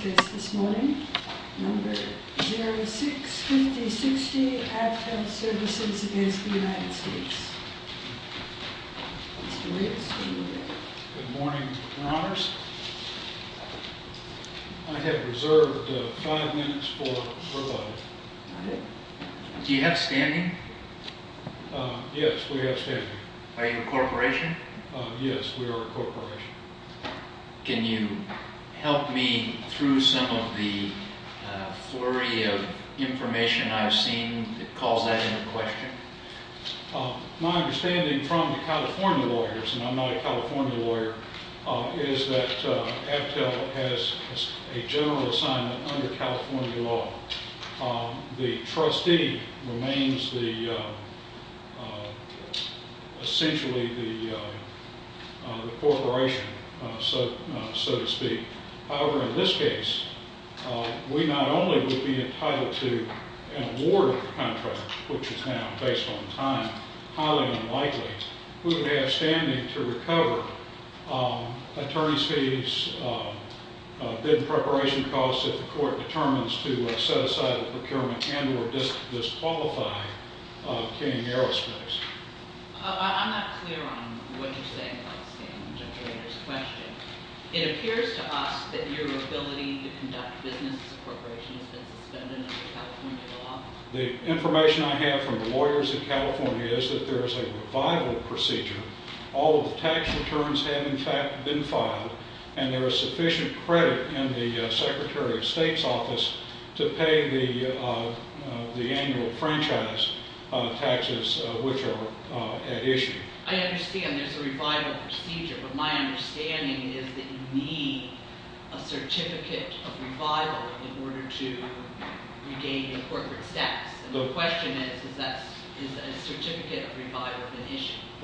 This morning, number 065060, Aptel Services against the United States. Good morning, your honors. I have reserved five minutes for rebuttal. Do you have standing? Yes, we have standing. Yes, we are a corporation. Can you help me through some of the flurry of information I've seen that calls that into question? My understanding from the California lawyers, and I'm not a California lawyer, is that Aptel has a general assignment under California law. The trustee remains essentially the corporation, so to speak. However, in this case, we not only would be entitled to an awarded contract, which is now based on time, highly unlikely, we would have standing to recover attorney's fees, bid preparation costs if the court determines to set aside a procurement and or disqualify King Aerospace. I'm not clear on what you're saying about standing, Judge Rader's question. It appears to us that your ability to conduct business as a corporation has been suspended under California law. The information I have from the lawyers in California is that there is a revival procedure. All of the tax returns have, in fact, been filed, and there is sufficient credit in the Secretary of State's office to pay the annual franchise taxes, which are at issue. I understand there's a revival procedure, but my understanding is that you need a certificate of revival in order to regain corporate status. The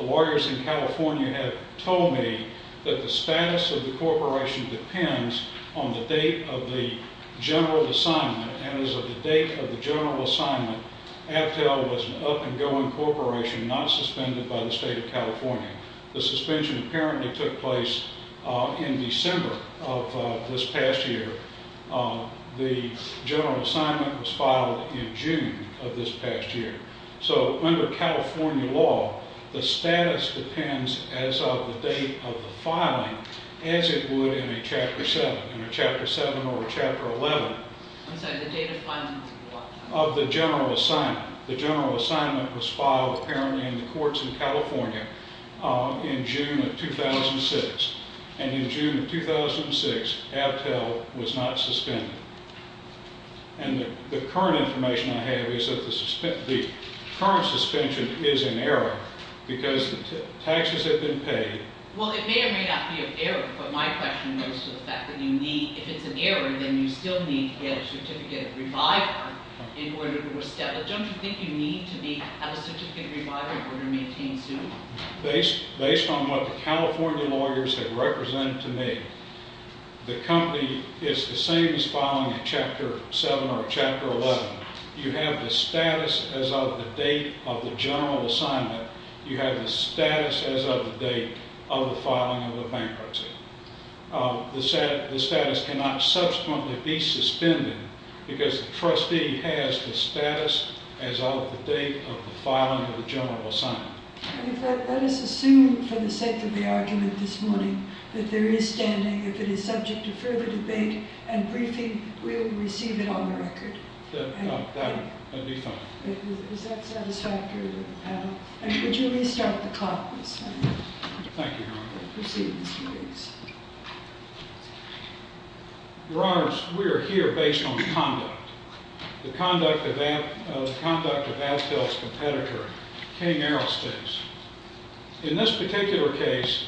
lawyers in California have told me that the status of the corporation depends on the date of the general assignment, and as of the date of the general assignment, Abtel was an up-and-going corporation not suspended by the State of California. The suspension apparently took place in December of this past year. The general assignment was filed in June of this past year. So under California law, the status depends as of the date of the filing as it would in a Chapter 7 or a Chapter 11 of the general assignment. The general assignment was filed apparently in the courts in California in June of 2006, and in June of 2006, Abtel was not suspended. And the current information I have is that the current suspension is in error because the taxes have been paid. Well, it may or may not be an error, but my question goes to the fact that if it's an error, then you still need to get a certificate of revival in order to establish it. Don't you think you need to have a certificate of revival in order to maintain suit? Based on what the California lawyers have represented to me, the company is the same as filing a Chapter 7 or a Chapter 11. You have the status as of the date of the general assignment. You have the status as of the date of the filing of the bankruptcy. The status cannot subsequently be suspended because the trustee has the status as of the date of the filing of the general assignment. In fact, let us assume, for the sake of the argument this morning, that there is standing. If it is subject to further debate and briefing, we will receive it on the record. That would be fine. Is that satisfactory to the panel? And would you restart the clock, please? Thank you, Your Honor. Proceed, please. Your Honors, we are here based on conduct. The conduct of Abtel's competitor, King-Aristos. In this particular case,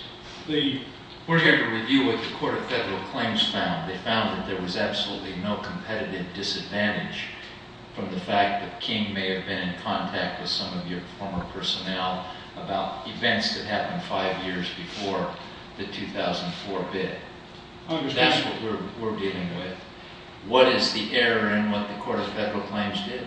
the... We're here to review what the Court of Federal Claims found. They found that there was absolutely no competitive disadvantage from the fact that King may have been in contact with some of your former personnel about events that happened five years before the 2004 bid. That's what we're dealing with. What is the error in what the Court of Federal Claims did?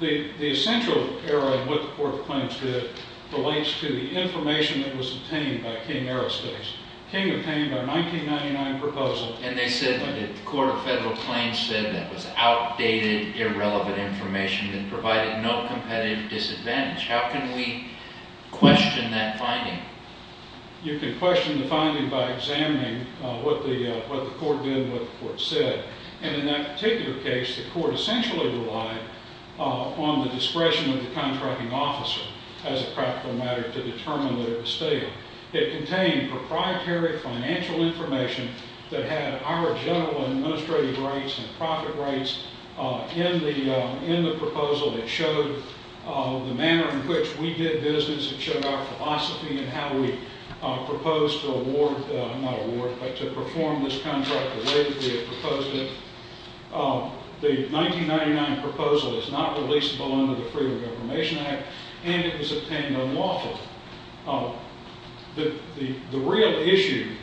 The essential error in what the Court of Claims did relates to the information that was obtained by King-Aristos. King obtained our 1999 proposal... And they said that the Court of Federal Claims said that was outdated, irrelevant information that provided no competitive disadvantage. How can we question that finding? You can question the finding by examining what the Court did and what the Court said. And in that particular case, the Court essentially relied on the discretion of the contracting officer, as a practical matter, to determine that it was stable. It contained proprietary financial information that had our general administrative rights and profit rights in the proposal. It showed the manner in which we did business. It showed our philosophy and how we proposed to award... Not award, but to perform this contract the way that we had proposed it. The 1999 proposal is not releasable under the Freedom of Information Act, and it was obtained unlawfully. The real issue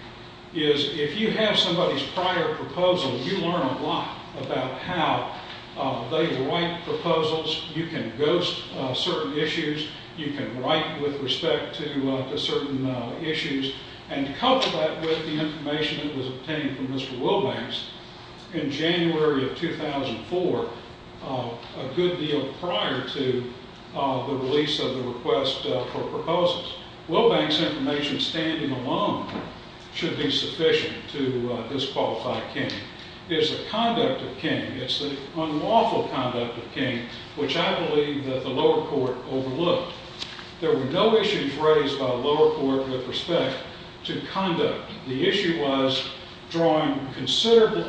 is, if you have somebody's prior proposal, you learn a lot about how they write proposals. You can ghost certain issues. You can write with respect to certain issues and couple that with the information that was obtained from Mr. Wilbanks in January of 2004, a good deal prior to the release of the request for proposals. Wilbanks' information standing alone should be sufficient to disqualify King. It's the conduct of King. It's the unlawful conduct of King, which I believe that the lower court overlooked. There were no issues raised by the lower court with respect to conduct. The issue was drawing a considerable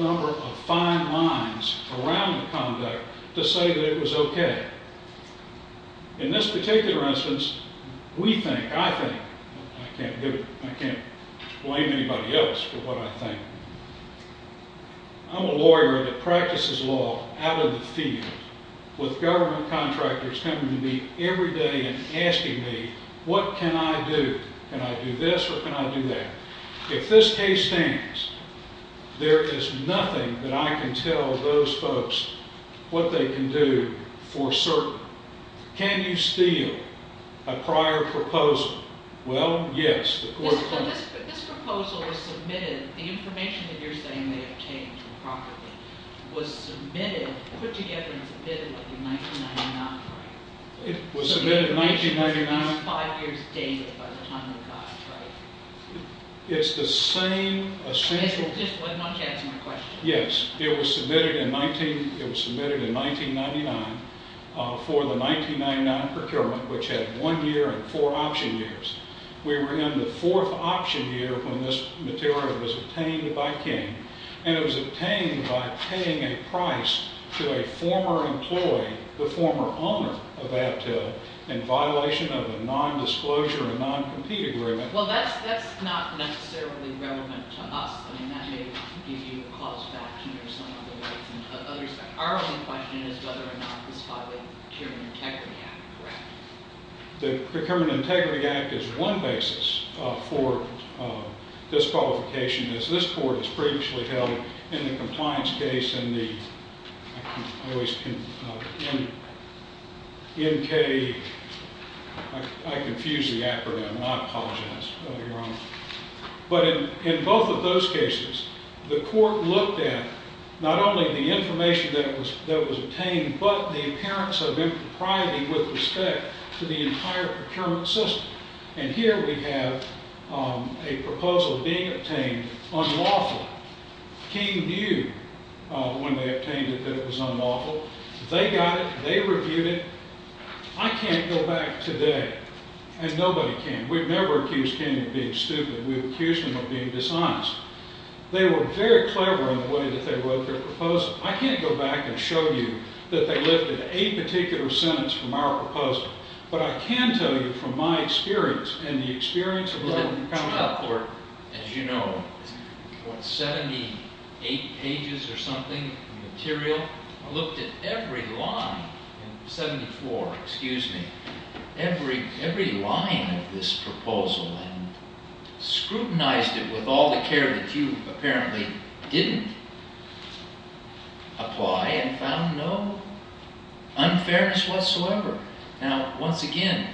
number of fine lines around the conduct to say that it was okay. In this particular instance, we think, I think... I can't blame anybody else for what I think. I'm a lawyer that practices law out in the field with government contractors coming to me every day and asking me, what can I do? Can I do this or can I do that? If this case stands, there is nothing that I can tell those folks what they can do for certain. Can you steal a prior proposal? Well, yes. This proposal was submitted. The information that you're saying they obtained improperly was submitted, put together and submitted in 1999, right? It was submitted in 1999. So the information was at least five years dated by the time they got it, right? It's the same essential... Just one more chance, one more question. Yes. It was submitted in 1999 for the 1999 procurement, which had one year and four option years. We were in the fourth option year when this material was obtained by King, and it was obtained by paying a price to a former employee, the former owner of Abtil, in violation of a non-disclosure and non-compete agreement. Well, that's not necessarily relevant to us. I mean, that may give you a cause back to your son or the wife and others. Our only question is whether or not this violated the Procurement Integrity Act, correct? The Procurement Integrity Act is one basis for disqualification, as this court has previously held in the compliance case and the... I always confuse the acronym. I apologize, Your Honor. But in both of those cases, the court looked at not only the information that was obtained but the appearance of impropriety with respect to the entire procurement system. And here we have a proposal being obtained unlawfully. King viewed, when they obtained it, that it was unlawful. They got it. They reviewed it. I can't go back today, and nobody can. We've never accused King of being stupid. We've accused him of being dishonest. They were very clever in the way that they wrote their proposal. I can't go back and show you that they lifted a particular sentence from our proposal. But I can tell you from my experience and the experience of a law enforcement counsel... The trial court, as you know, what, 78 pages or something of material, looked at every line in 74, excuse me, every line of this proposal and scrutinized it with all the care that you apparently didn't apply and found no unfairness whatsoever. Now, once again,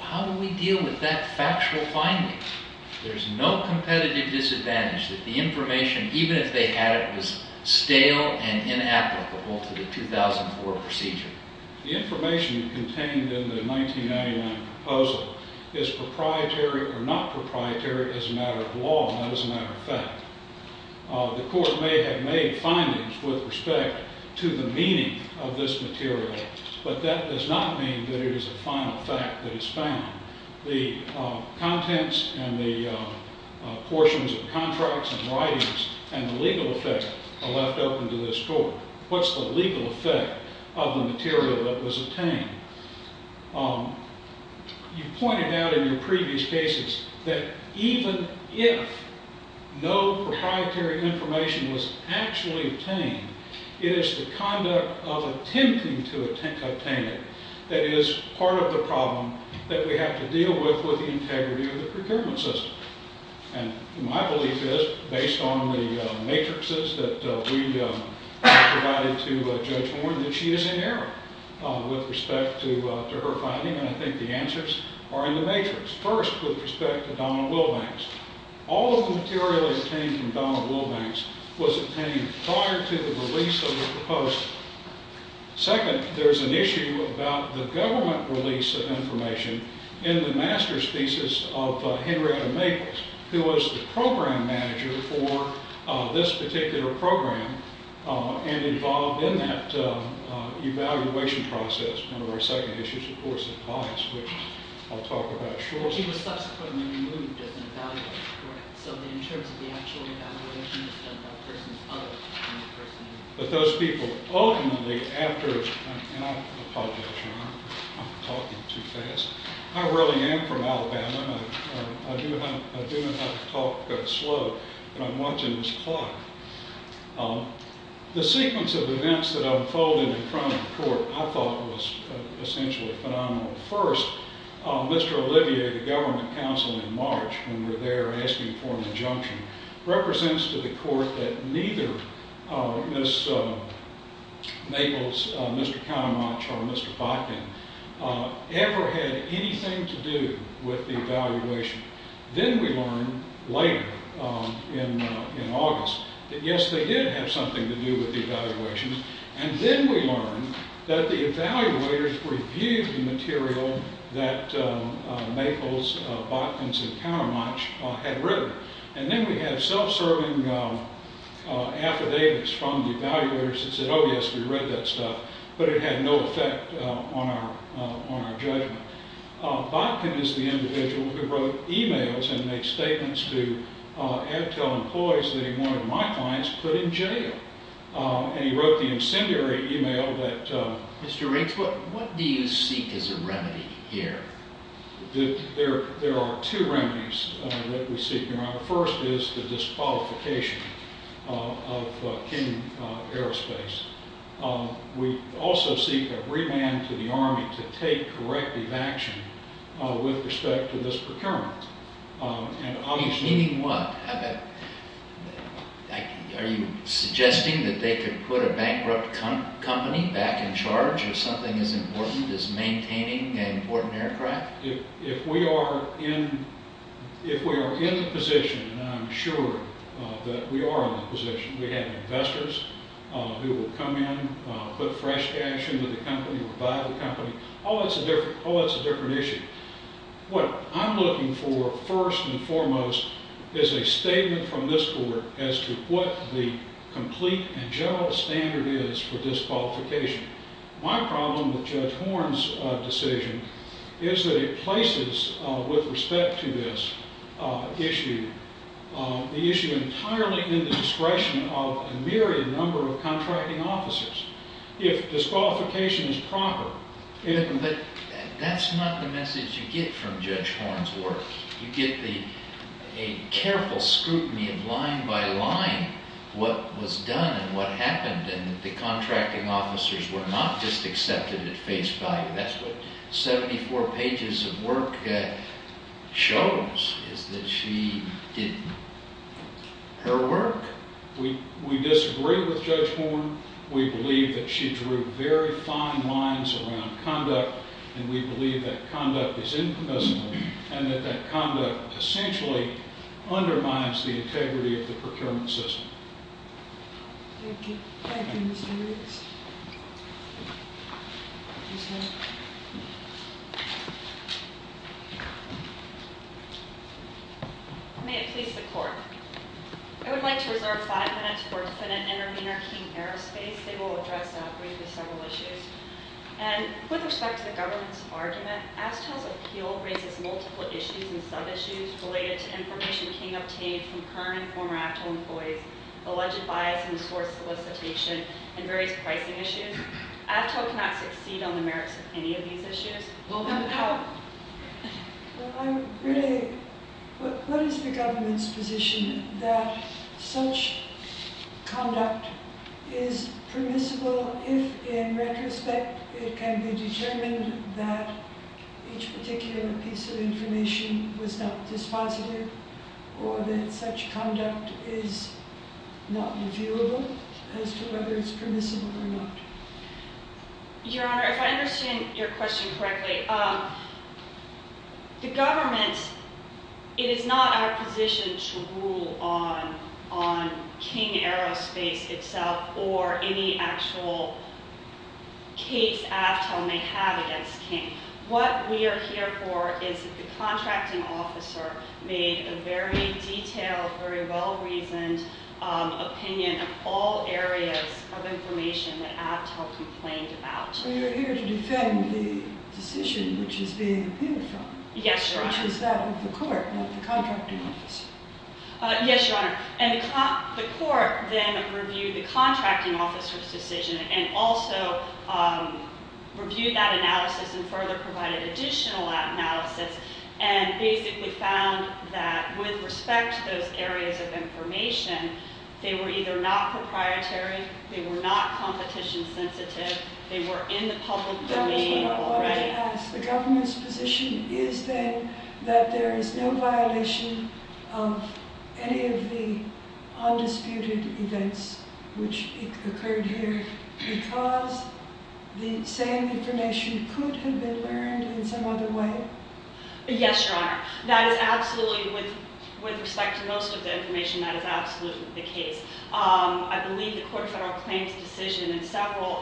how do we deal with that factual finding? There's no competitive disadvantage that the information, even if they had it, was stale and inapplicable to the 2004 procedure. The information contained in the 1999 proposal is proprietary or not proprietary as a matter of law, not as a matter of fact. The court may have made findings with respect to the meaning of this material, but that does not mean that it is a final fact that is found. The contents and the portions of contracts and writings and the legal effect are left open to this court. What's the legal effect of the material that was obtained? You pointed out in your previous cases that even if no proprietary information was actually obtained, it is the conduct of attempting to obtain it that is part of the problem that we have to deal with with the integrity of the procurement system. And my belief is, based on the matrices that we provided to Judge Warren, that she is in error with respect to her finding, and I think the answers are in the matrix. First, with respect to Donald Wilbanks, all of the material obtained from Donald Wilbanks was obtained prior to the release of the proposed. Second, there's an issue about the government release of information in the master's thesis of Henrietta Maples, who was the program manager for this particular program and involved in that evaluation process. One of our second issues, of course, is bias, which I'll talk about shortly. He was subsequently removed as an evaluator. Correct. So in terms of the actual evaluation, it's done by a person other than the person involved. But those people ultimately, after – and I apologize, I'm talking too fast. I really am from Alabama. I do know how to talk slow, but I'm watching this clock. The sequence of events that unfolded in front of the court I thought was essentially phenomenal. First, Mr. Olivier, the government counsel in March, when we were there asking for an injunction, represents to the court that neither Ms. Maples, Mr. Countermuch, or Mr. Botkin ever had anything to do with the evaluation. Then we learned later in August that, yes, they did have something to do with the evaluation. And then we learned that the evaluators reviewed the material that Maples, Botkins, and Countermuch had written. And then we had self-serving affidavits from the evaluators that said, oh, yes, we read that stuff. But it had no effect on our judgment. Botkin is the individual who wrote e-mails and made statements to Abtel employees that he wanted my clients put in jail. And he wrote the incendiary e-mail that – Mr. Riggs, what do you seek as a remedy here? There are two remedies that we seek, Your Honor. First is the disqualification of King Aerospace. We also seek a remand to the Army to take corrective action with respect to this procurement. Meaning what? Are you suggesting that they could put a bankrupt company back in charge if something as important as maintaining an important aircraft? If we are in the position, and I'm sure that we are in the position, we have investors who will come in, put fresh cash into the company or buy the company. Oh, that's a different issue. What I'm looking for, first and foremost, is a statement from this Court as to what the complete and general standard is for disqualification. My problem with Judge Horne's decision is that it places, with respect to this issue, the issue entirely in the discretion of a myriad number of contracting officers. If disqualification is proper, it – But that's not the message you get from Judge Horne's work. You get a careful scrutiny of line by line what was done and what happened and that the contracting officers were not just accepted at face value. That's what 74 pages of work shows, is that she did her work. We disagree with Judge Horne. We believe that she drew very fine lines around conduct, and we believe that conduct is infamous and that that conduct essentially undermines the integrity of the procurement system. Thank you. Thank you, Mr. Riggs. May it please the Court. I would like to reserve five minutes for defendant Intervenor King-Aerospace. They will address briefly several issues. And with respect to the government's argument, ASTEL's appeal raises multiple issues and sub-issues related to information King obtained from current and former ASTEL employees, alleged bias in the source solicitation, and various pricing issues. ASTEL cannot succeed on the merits of any of these issues. We'll come to that. I'm really – what is the government's position that such conduct is permissible if, in retrospect, it can be determined that each particular piece of information was not dispositive or that such conduct is not reviewable as to whether it's permissible or not? Your Honor, if I understand your question correctly, the government – it is not our position to rule on King-Aerospace itself or any actual case ASTEL may have against King. What we are here for is that the contracting officer made a very detailed, very well-reasoned opinion of all areas of information that ASTEL complained about. So you're here to defend the decision which is being appealed from? Yes, Your Honor. Which is that of the court, not the contracting officer. Yes, Your Honor. And the court then reviewed the contracting officer's decision and also reviewed that analysis and further provided additional analysis and basically found that, with respect to those areas of information, they were either not proprietary, they were not competition-sensitive, they were in the public domain. That was what I wanted to ask. The government's position is then that there is no violation of any of the undisputed events which occurred here because the same information could have been learned in some other way? Yes, Your Honor. That is absolutely – with respect to most of the information, that is absolutely the case. I believe the Court of Federal Claims' decision in several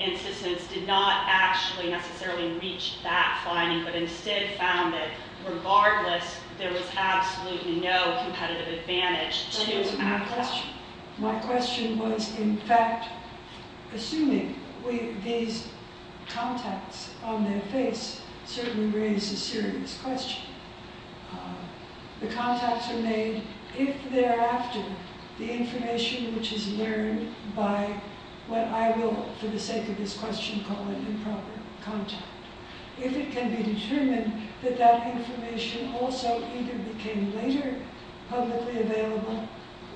instances did not actually necessarily reach that finding, but instead found that, regardless, there was absolutely no competitive advantage to ASTEL. That is my question. My question was, in fact, assuming these contacts on their face certainly raise a serious question. The contacts are made if thereafter the information which is learned by what I will, for the sake of this question, call an improper contact, if it can be determined that that information also either became later publicly available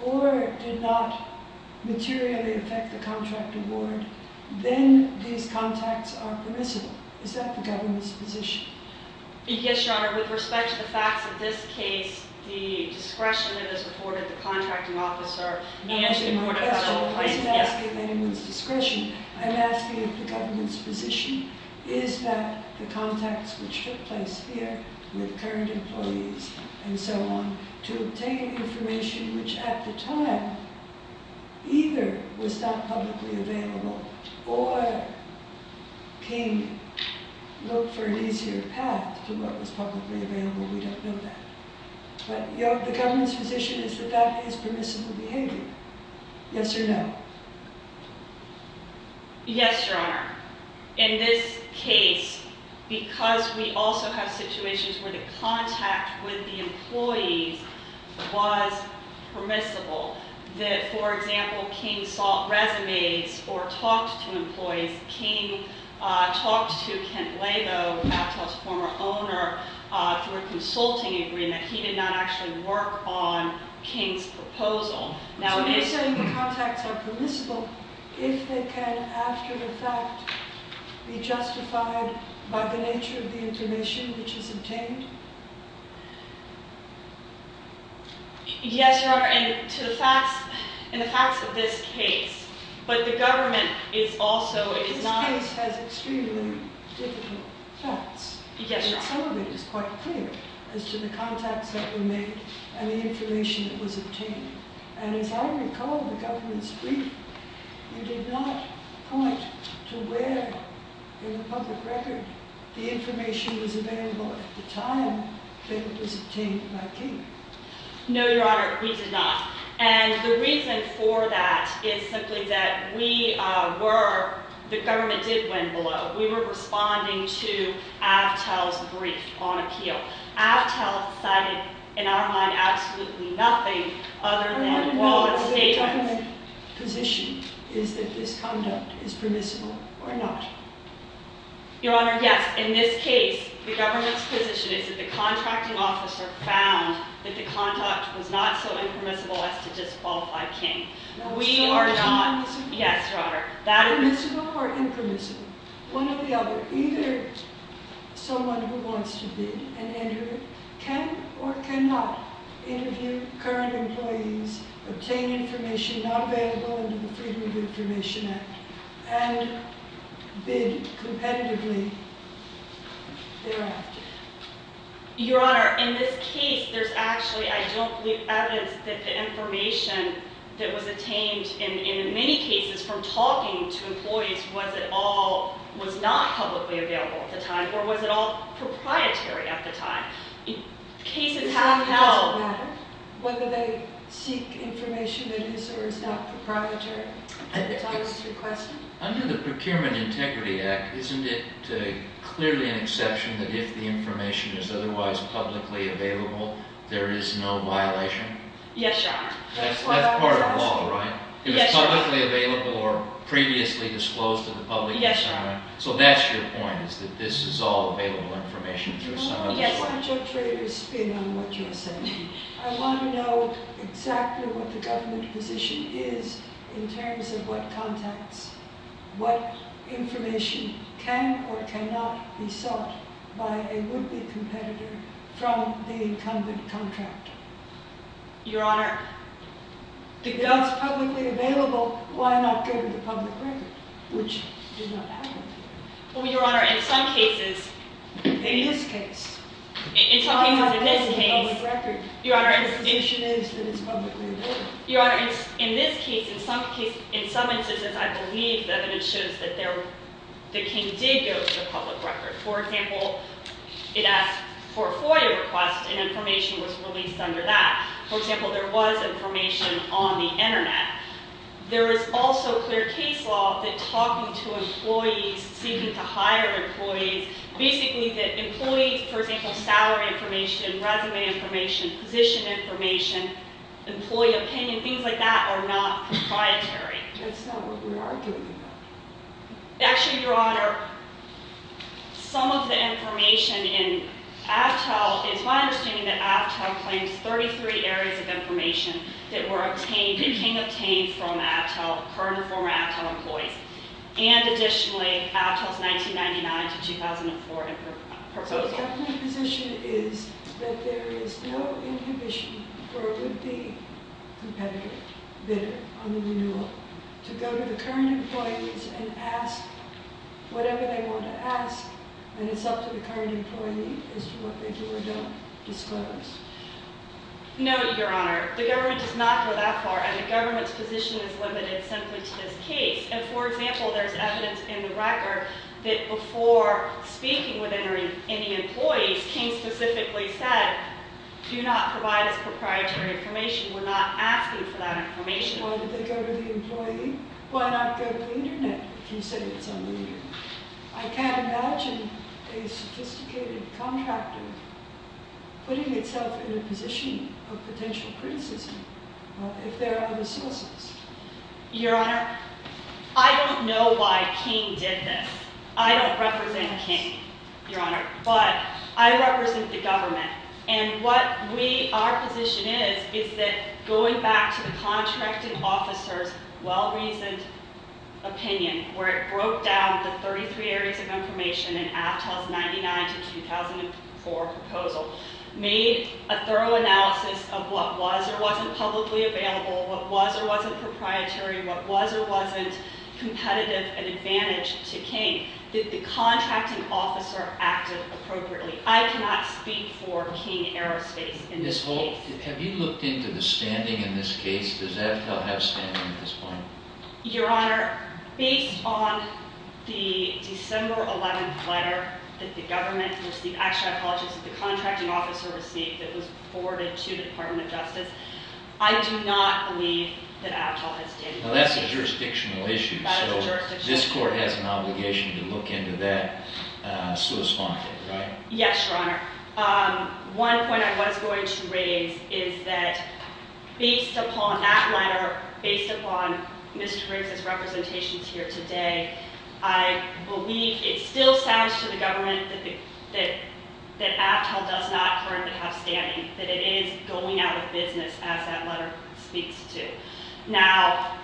or did not materially affect the contract award, then these contacts are permissible. Is that the government's position? Yes, Your Honor. With respect to the facts of this case, the discretion that is afforded the contracting officer and the Court of Federal Claims – I'm not asking anyone's discretion. I'm asking if the government's position is that the contacts which took place here with current employees and so on, to obtain information which at the time either was not publicly available or can look for an easier path to what was publicly available, we don't know that. But the government's position is that that is permissible behavior. Yes or no? Yes, Your Honor. In this case, because we also have situations where the contact with the employees was permissible, that, for example, King saw resumes or talked to employees. King talked to Kent Blago, Aptell's former owner, through a consulting agreement. He did not actually work on King's proposal. So you're saying the contacts are permissible if they can, after the fact, be justified by the nature of the information which is obtained? Yes, Your Honor. And to the facts of this case, but the government is also – This case has extremely difficult facts. Yes, Your Honor. And some of it is quite clear as to the contacts that were made and the information that was obtained. And as I recall, the government's brief, you did not point to where in the public record the information was available at the time that it was obtained by King. No, Your Honor, we did not. And the reason for that is simply that we were – the government did win below. We were responding to Aptell's brief on appeal. Aptell cited, in our mind, absolutely nothing other than – Your Honor, the government's position is that this conduct is permissible or not. Your Honor, yes. In this case, the government's position is that the contracting officer found that the conduct was not so impermissible as to disqualify King. We are not – Now, is King permissible? Yes, Your Honor. Permissible or impermissible? One or the other. Either someone who wants to bid and enter can or cannot interview current employees, obtain information not available under the Freedom of Information Act, and bid competitively thereafter. Your Honor, in this case, there's actually, I don't believe, evidence that the information that was attained in many cases from talking to employees was at all – was not publicly available at the time, or was at all proprietary at the time. Cases have held – So it doesn't matter whether they seek information that is or is not proprietary? That's always the question. Under the Procurement Integrity Act, isn't it clearly an exception that if the information is otherwise publicly available, there is no violation? Yes, Your Honor. That's part of the law, right? Yes, Your Honor. If it's publicly available or previously disclosed to the public? Yes, Your Honor. So that's your point, is that this is all available information? Yes. Why don't you traders spin on what you're saying? I want to know exactly what the government position is in terms of what contacts – what information can or cannot be sought by a would-be competitor from the incumbent contractor. Your Honor – If it's publicly available, why not give it to public record, which does not happen? Well, Your Honor, in some cases – In this case? In some cases, in this case – Why not give it to public record? Your Honor – The condition is that it's publicly available. Your Honor, in this case, in some cases – in some instances, I believe that it shows that the king did go to the public record. For example, it asked for a FOIA request, and information was released under that. For example, there was information on the internet. There is also clear case law that talking to employees, seeking to hire employees – basically that employees, for example, salary information, resume information, position information, employee opinion, things like that, are not compliantary. That's not what we're arguing about. Actually, Your Honor, some of the information in Avtel – it's my understanding that Avtel claims 33 areas of information that were obtained – became obtained from Avtel, current or former Avtel employees. And additionally, Avtel's 1999 to 2004 proposal. So the government position is that there is no inhibition for a would-be competitor, on the renewal, to go to the current employees and ask whatever they want to ask, and it's up to the current employee as to what they do or don't disclose. No, Your Honor. The government does not go that far, and the government's position is limited simply to this case. And for example, there's evidence in the record that before speaking with any employees, King specifically said, do not provide us proprietary information. We're not asking for that information. Why did they go to the employee? Why not go to the Internet, if you say it's a leader? I can't imagine a sophisticated contractor putting itself in a position of potential criticism, if there are other sources. Your Honor, I don't know why King did this. I don't represent King, Your Honor, but I represent the government. And what we, our position is, is that going back to the contracting officer's well-reasoned opinion, where it broke down the 33 areas of information in Aptel's 1999 to 2004 proposal, made a thorough analysis of what was or wasn't publicly available, what was or wasn't proprietary, what was or wasn't competitive and advantage to King. Did the contracting officer act appropriately? I cannot speak for King Aerospace in this case. Ms. Holt, have you looked into the standing in this case? Does Aptel have standing at this point? Your Honor, based on the December 11th letter that the government received, actually, I apologize, that the contracting officer received that was forwarded to the Department of Justice, I do not believe that Aptel has standing. Well, that's a jurisdictional issue. That is a jurisdictional issue. So this court has an obligation to look into that, so it's fine, right? Yes, Your Honor. One point I was going to raise is that based upon that letter, based upon Mr. Riggs' representations here today, I believe it still sounds to the government that Aptel does not currently have standing, that it is going out of business as that letter speaks to. Now,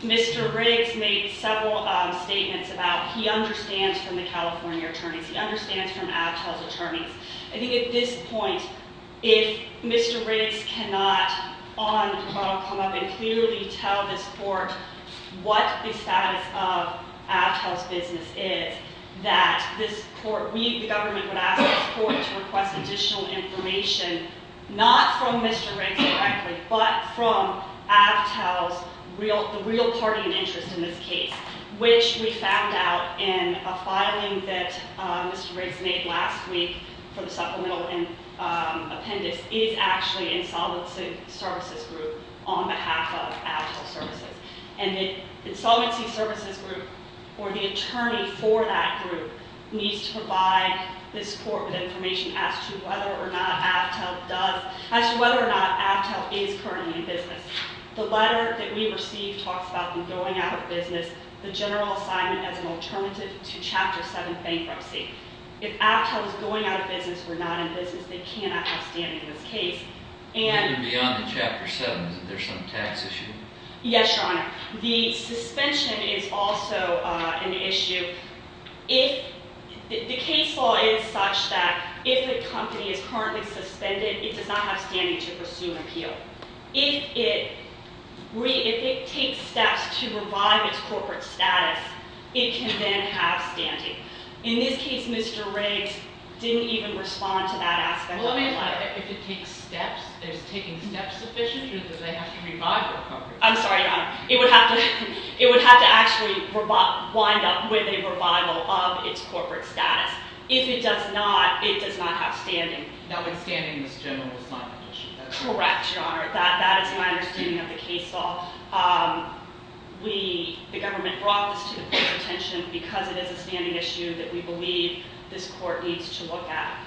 Mr. Riggs made several statements about he understands from the California attorneys, he understands from Aptel's attorneys. I think at this point, if Mr. Riggs cannot come up and clearly tell this court what the status of Aptel's business is, that this court, we, the government, would ask this court to request additional information, not from Mr. Riggs directly, but from Aptel's real party and interest in this case, which we found out in a filing that Mr. Riggs made last week for the supplemental appendix is actually Insolvency Services Group on behalf of Aptel Services. And the Insolvency Services Group, or the attorney for that group, needs to provide this court with information as to whether or not Aptel does, as to whether or not Aptel is currently in business. The letter that we received talks about them going out of business, the general assignment as an alternative to Chapter 7 bankruptcy. If Aptel is going out of business, we're not in business, they cannot have standing in this case. Even beyond the Chapter 7, isn't there some tax issue? Yes, Your Honor. The suspension is also an issue. The case law is such that if a company is currently suspended, it does not have standing to pursue an appeal. If it takes steps to revive its corporate status, it can then have standing. In this case, Mr. Riggs didn't even respond to that aspect of the letter. If it takes steps, is taking steps sufficient, or does it have to revive the company? I'm sorry, Your Honor. It would have to actually wind up with a revival of its corporate status. If it does not, it does not have standing. Notwithstanding this general assignment issue. Correct, Your Honor. That is my understanding of the case law. The government brought this to the court's attention because it is a standing issue that we believe this court needs to look at.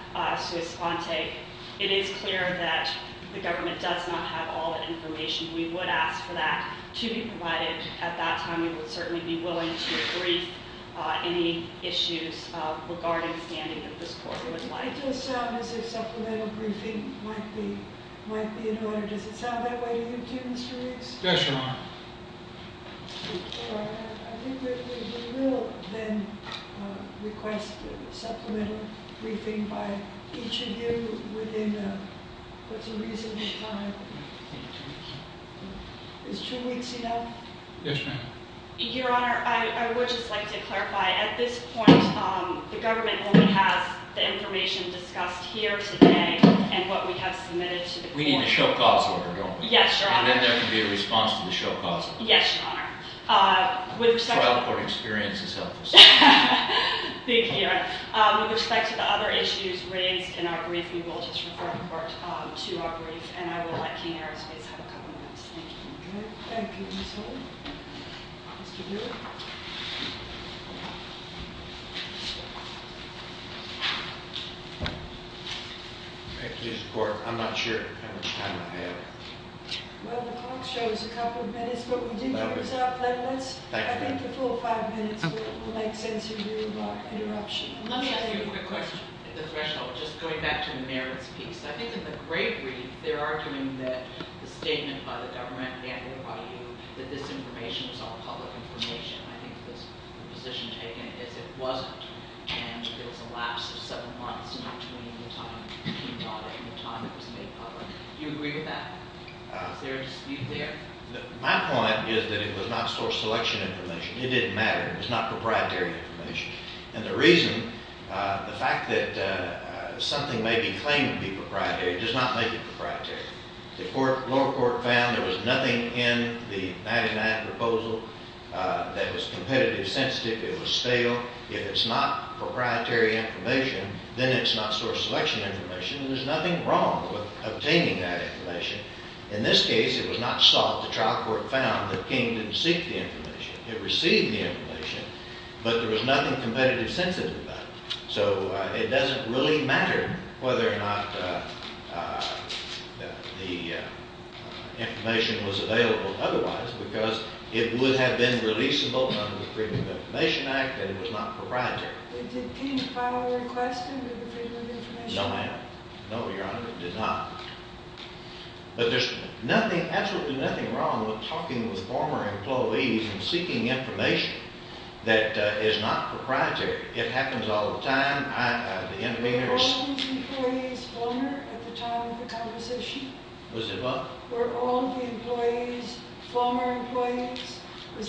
It is clear that the government does not have all that information. We would ask for that to be provided at that time. We would certainly be willing to brief any issues regarding standing that this court would like. It does sound as if supplemental briefing might be in order. Does it sound that way to you, too, Mr. Riggs? Yes, Your Honor. I think we will then request supplemental briefing by each of you within what's a reasonable time. Is two weeks enough? Yes, ma'am. Your Honor, I would just like to clarify. At this point, the government only has the information discussed here today and what we have submitted to the court. We need a show cause order, don't we? Yes, Your Honor. And then there can be a response to the show cause order. Yes, Your Honor. The trial court experience is helpful. Thank you, Your Honor. With respect to the other issues raised in our brief, we will just refer the court to our brief. And I will let King Air and Space have a couple of minutes. Thank you. Thank you, Ms. Holt. Mr. Hewitt. Thank you. Thank you, Mr. Court. I'm not sure how much time I have. Well, the clock shows a couple of minutes, but we do have time. I think the full five minutes will make sense in view of our interruption. Let me ask you a quick question. Just going back to the merits piece. I think in the great brief, they're arguing that the statement by the government and by you that this information is all public information. I think the position taken is it wasn't. And it was a lapse of seven months in between the time he brought it and the time it was made public. Do you agree with that? Is there a dispute there? My point is that it was not source selection information. It didn't matter. It was not proprietary information. And the reason, the fact that something may be claimed to be proprietary does not make it proprietary. The lower court found there was nothing in the Madigan Act proposal that was competitive sensitive. It was stale. If it's not proprietary information, then it's not source selection information. And there's nothing wrong with obtaining that information. In this case, it was not sought. The trial court found that King didn't seek the information. It received the information, but there was nothing competitive sensitive about it. So it doesn't really matter whether or not the information was available otherwise because it would have been releasable under the Freedom of Information Act and it was not proprietary. Did King file a request under the Freedom of Information Act? No, ma'am. No, Your Honor, he did not. But there's nothing, absolutely nothing wrong with talking with former employees and seeking information that is not proprietary. It happens all the time. Were all those employees former at the time of the conversation? Was it what? Were all the employees former employees?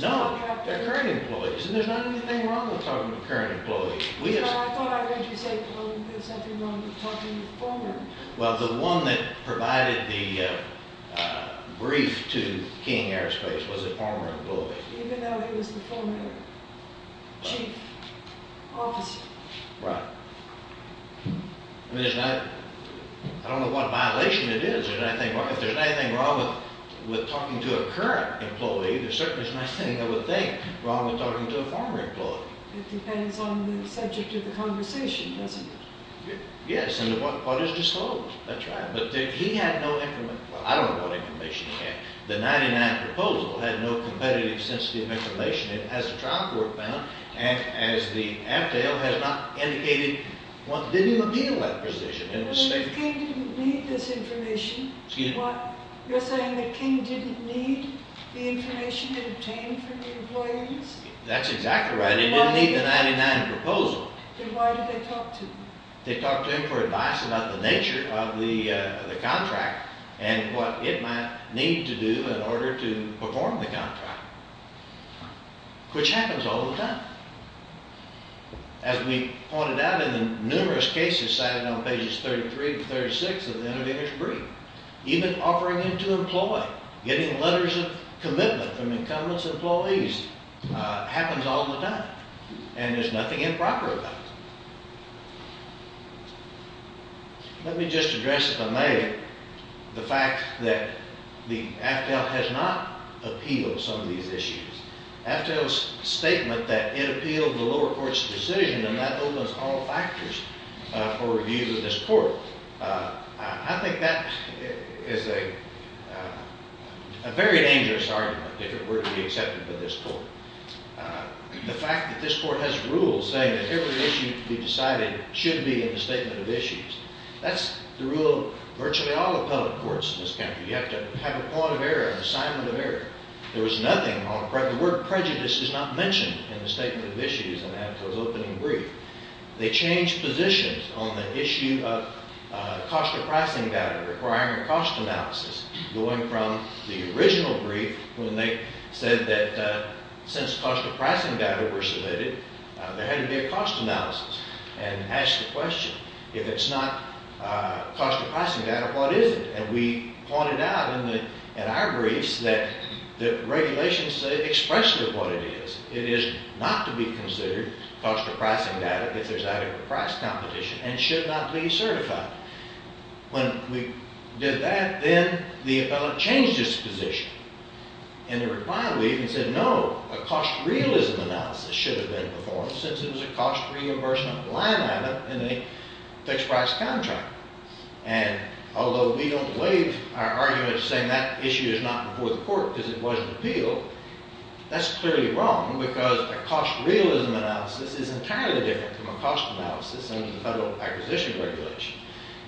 No, they're current employees. And there's nothing wrong with talking with current employees. I thought I heard you say, well, there's nothing wrong with talking with former. Well, the one that provided the brief to King Airspace was a former employee. Even though he was the former chief officer. Right. I mean, I don't know what violation it is. If there's anything wrong with talking to a current employee, there's certainly nothing I would think wrong with talking to a former employee. It depends on the subject of the conversation, doesn't it? Yes, and what is disclosed. That's right. But he had no information. Well, I don't know what information he had. The 99 proposal had no competitive sensitive information. It has a trial court bound, and as the Aftel has not indicated, what did he reveal that position? Well, if King didn't need this information. Excuse me? You're saying that King didn't need the information obtained from the employees? That's exactly right. He didn't need the 99 proposal. Then why did they talk to him? They talked to him for advice about the nature of the contract and what it might need to do in order to perform the contract. Which happens all the time. As we pointed out in the numerous cases cited on pages 33 to 36 of the intervener's brief, even offering him to employ, getting letters of commitment from incumbents' employees happens all the time, and there's nothing improper about it. Let me just address, if I may, the fact that the Aftel has not appealed some of these issues. Aftel's statement that it appealed the lower court's decision, and that opens all factors for review to this court. I think that is a very dangerous argument if it were to be accepted by this court. The fact that this court has rules saying that every issue to be decided should be in the statement of issues, that's the rule of virtually all appellate courts in this country. You have to have a point of error, an assignment of error. There was nothing on the part of the court. Prejudice is not mentioned in the statement of issues in Aftel's opening brief. They changed positions on the issue of cost of pricing data requiring a cost analysis, going from the original brief when they said that since cost of pricing data were submitted, there had to be a cost analysis, and asked the question, if it's not cost of pricing data, what is it? And we pointed out in our briefs that the regulations say expressly what it is. It is not to be considered cost of pricing data if there's adequate price competition and should not be certified. When we did that, then the appellant changed his position in the reply brief and said, no, a cost realism analysis should have been performed since it was a cost reimbursement line item in a fixed price contract. And although we don't waive our argument saying that issue is not before the court because it wasn't appealed, that's clearly wrong because a cost realism analysis is entirely different from a cost analysis under the Federal Acquisition Regulation.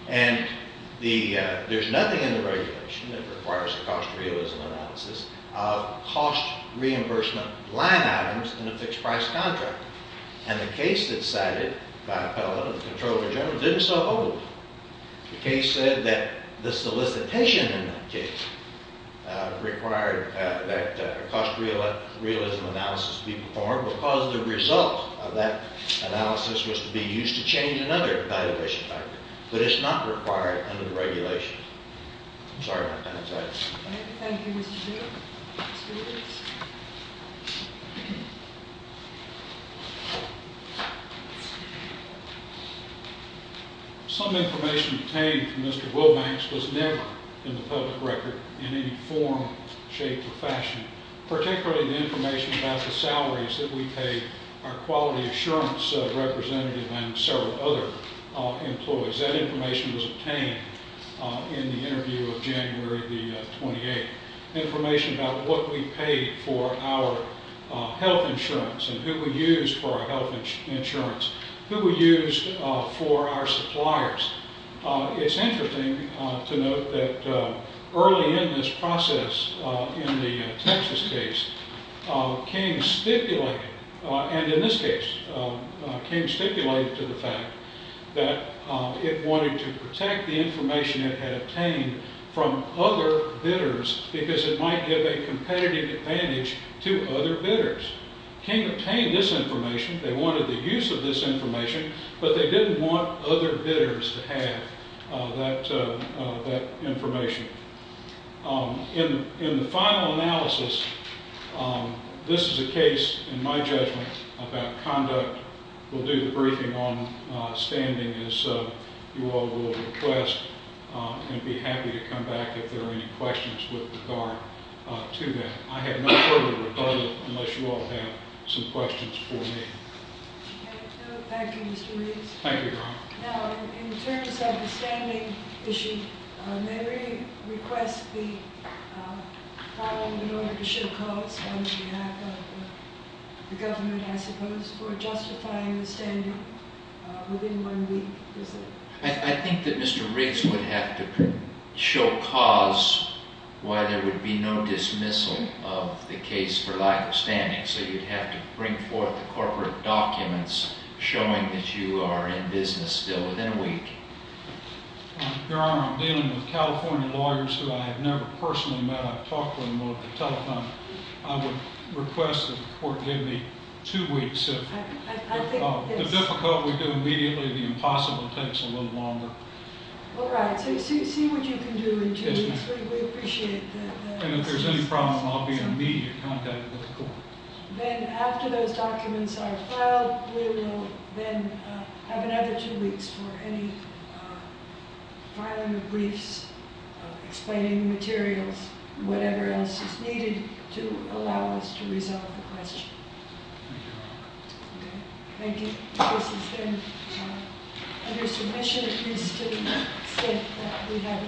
And there's nothing in the regulation that requires a cost realism analysis of cost reimbursement line items in a fixed price contract. And the case that's cited by appellant and the Comptroller General didn't so hold. The case said that the solicitation in that case required that a cost realism analysis be performed because the result of that analysis was to be used to change another evaluation factor. But it's not required under the regulation. I'm sorry if I didn't answer that. All right. Thank you, Mr. Drew. Mr. Williams. Some information obtained from Mr. Wilbanks was never in the public record in any form, shape, or fashion, particularly the information about the salaries that we pay our quality assurance representative and several other employees. That information was obtained in the interview of January the 28th, information about what we paid for our health insurance and who we used for our health insurance, who we used for our suppliers. It's interesting to note that early in this process in the Texas case, King stipulated, and in this case, King stipulated to the fact that it wanted to protect the information it had obtained from other bidders because it might give a competitive advantage to other bidders. King obtained this information. They wanted the use of this information, but they didn't want other bidders to have that information. In the final analysis, this is a case, in my judgment, about conduct. We'll do the briefing on standing as you all will request, and I'd be happy to come back if there are any questions with regard to that. I have no further rebuttal unless you all have some questions for me. Thank you, Mr. Reeves. Thank you, Your Honor. Now, in terms of the standing issue, may we request the problem in order to show cause on behalf of the government, I suppose, for justifying the standing within one week? I think that Mr. Reeves would have to show cause why there would be no dismissal of the case for lack of standing, and so you'd have to bring forth the corporate documents showing that you are in business still within a week. Your Honor, I'm dealing with California lawyers who I have never personally met. I've talked to them over the telephone. I would request that the court give me two weeks. If the difficulty would go immediately, the impossible takes a little longer. All right. See what you can do in two weeks. We appreciate the assistance. I'll be in immediate contact with the court. Then after those documents are filed, we will then have another two weeks for any filing of briefs, explaining the materials, whatever else is needed to allow us to resolve the question. Thank you, Your Honor. Thank you. This is then under submission, at least, to the extent that we have it before us.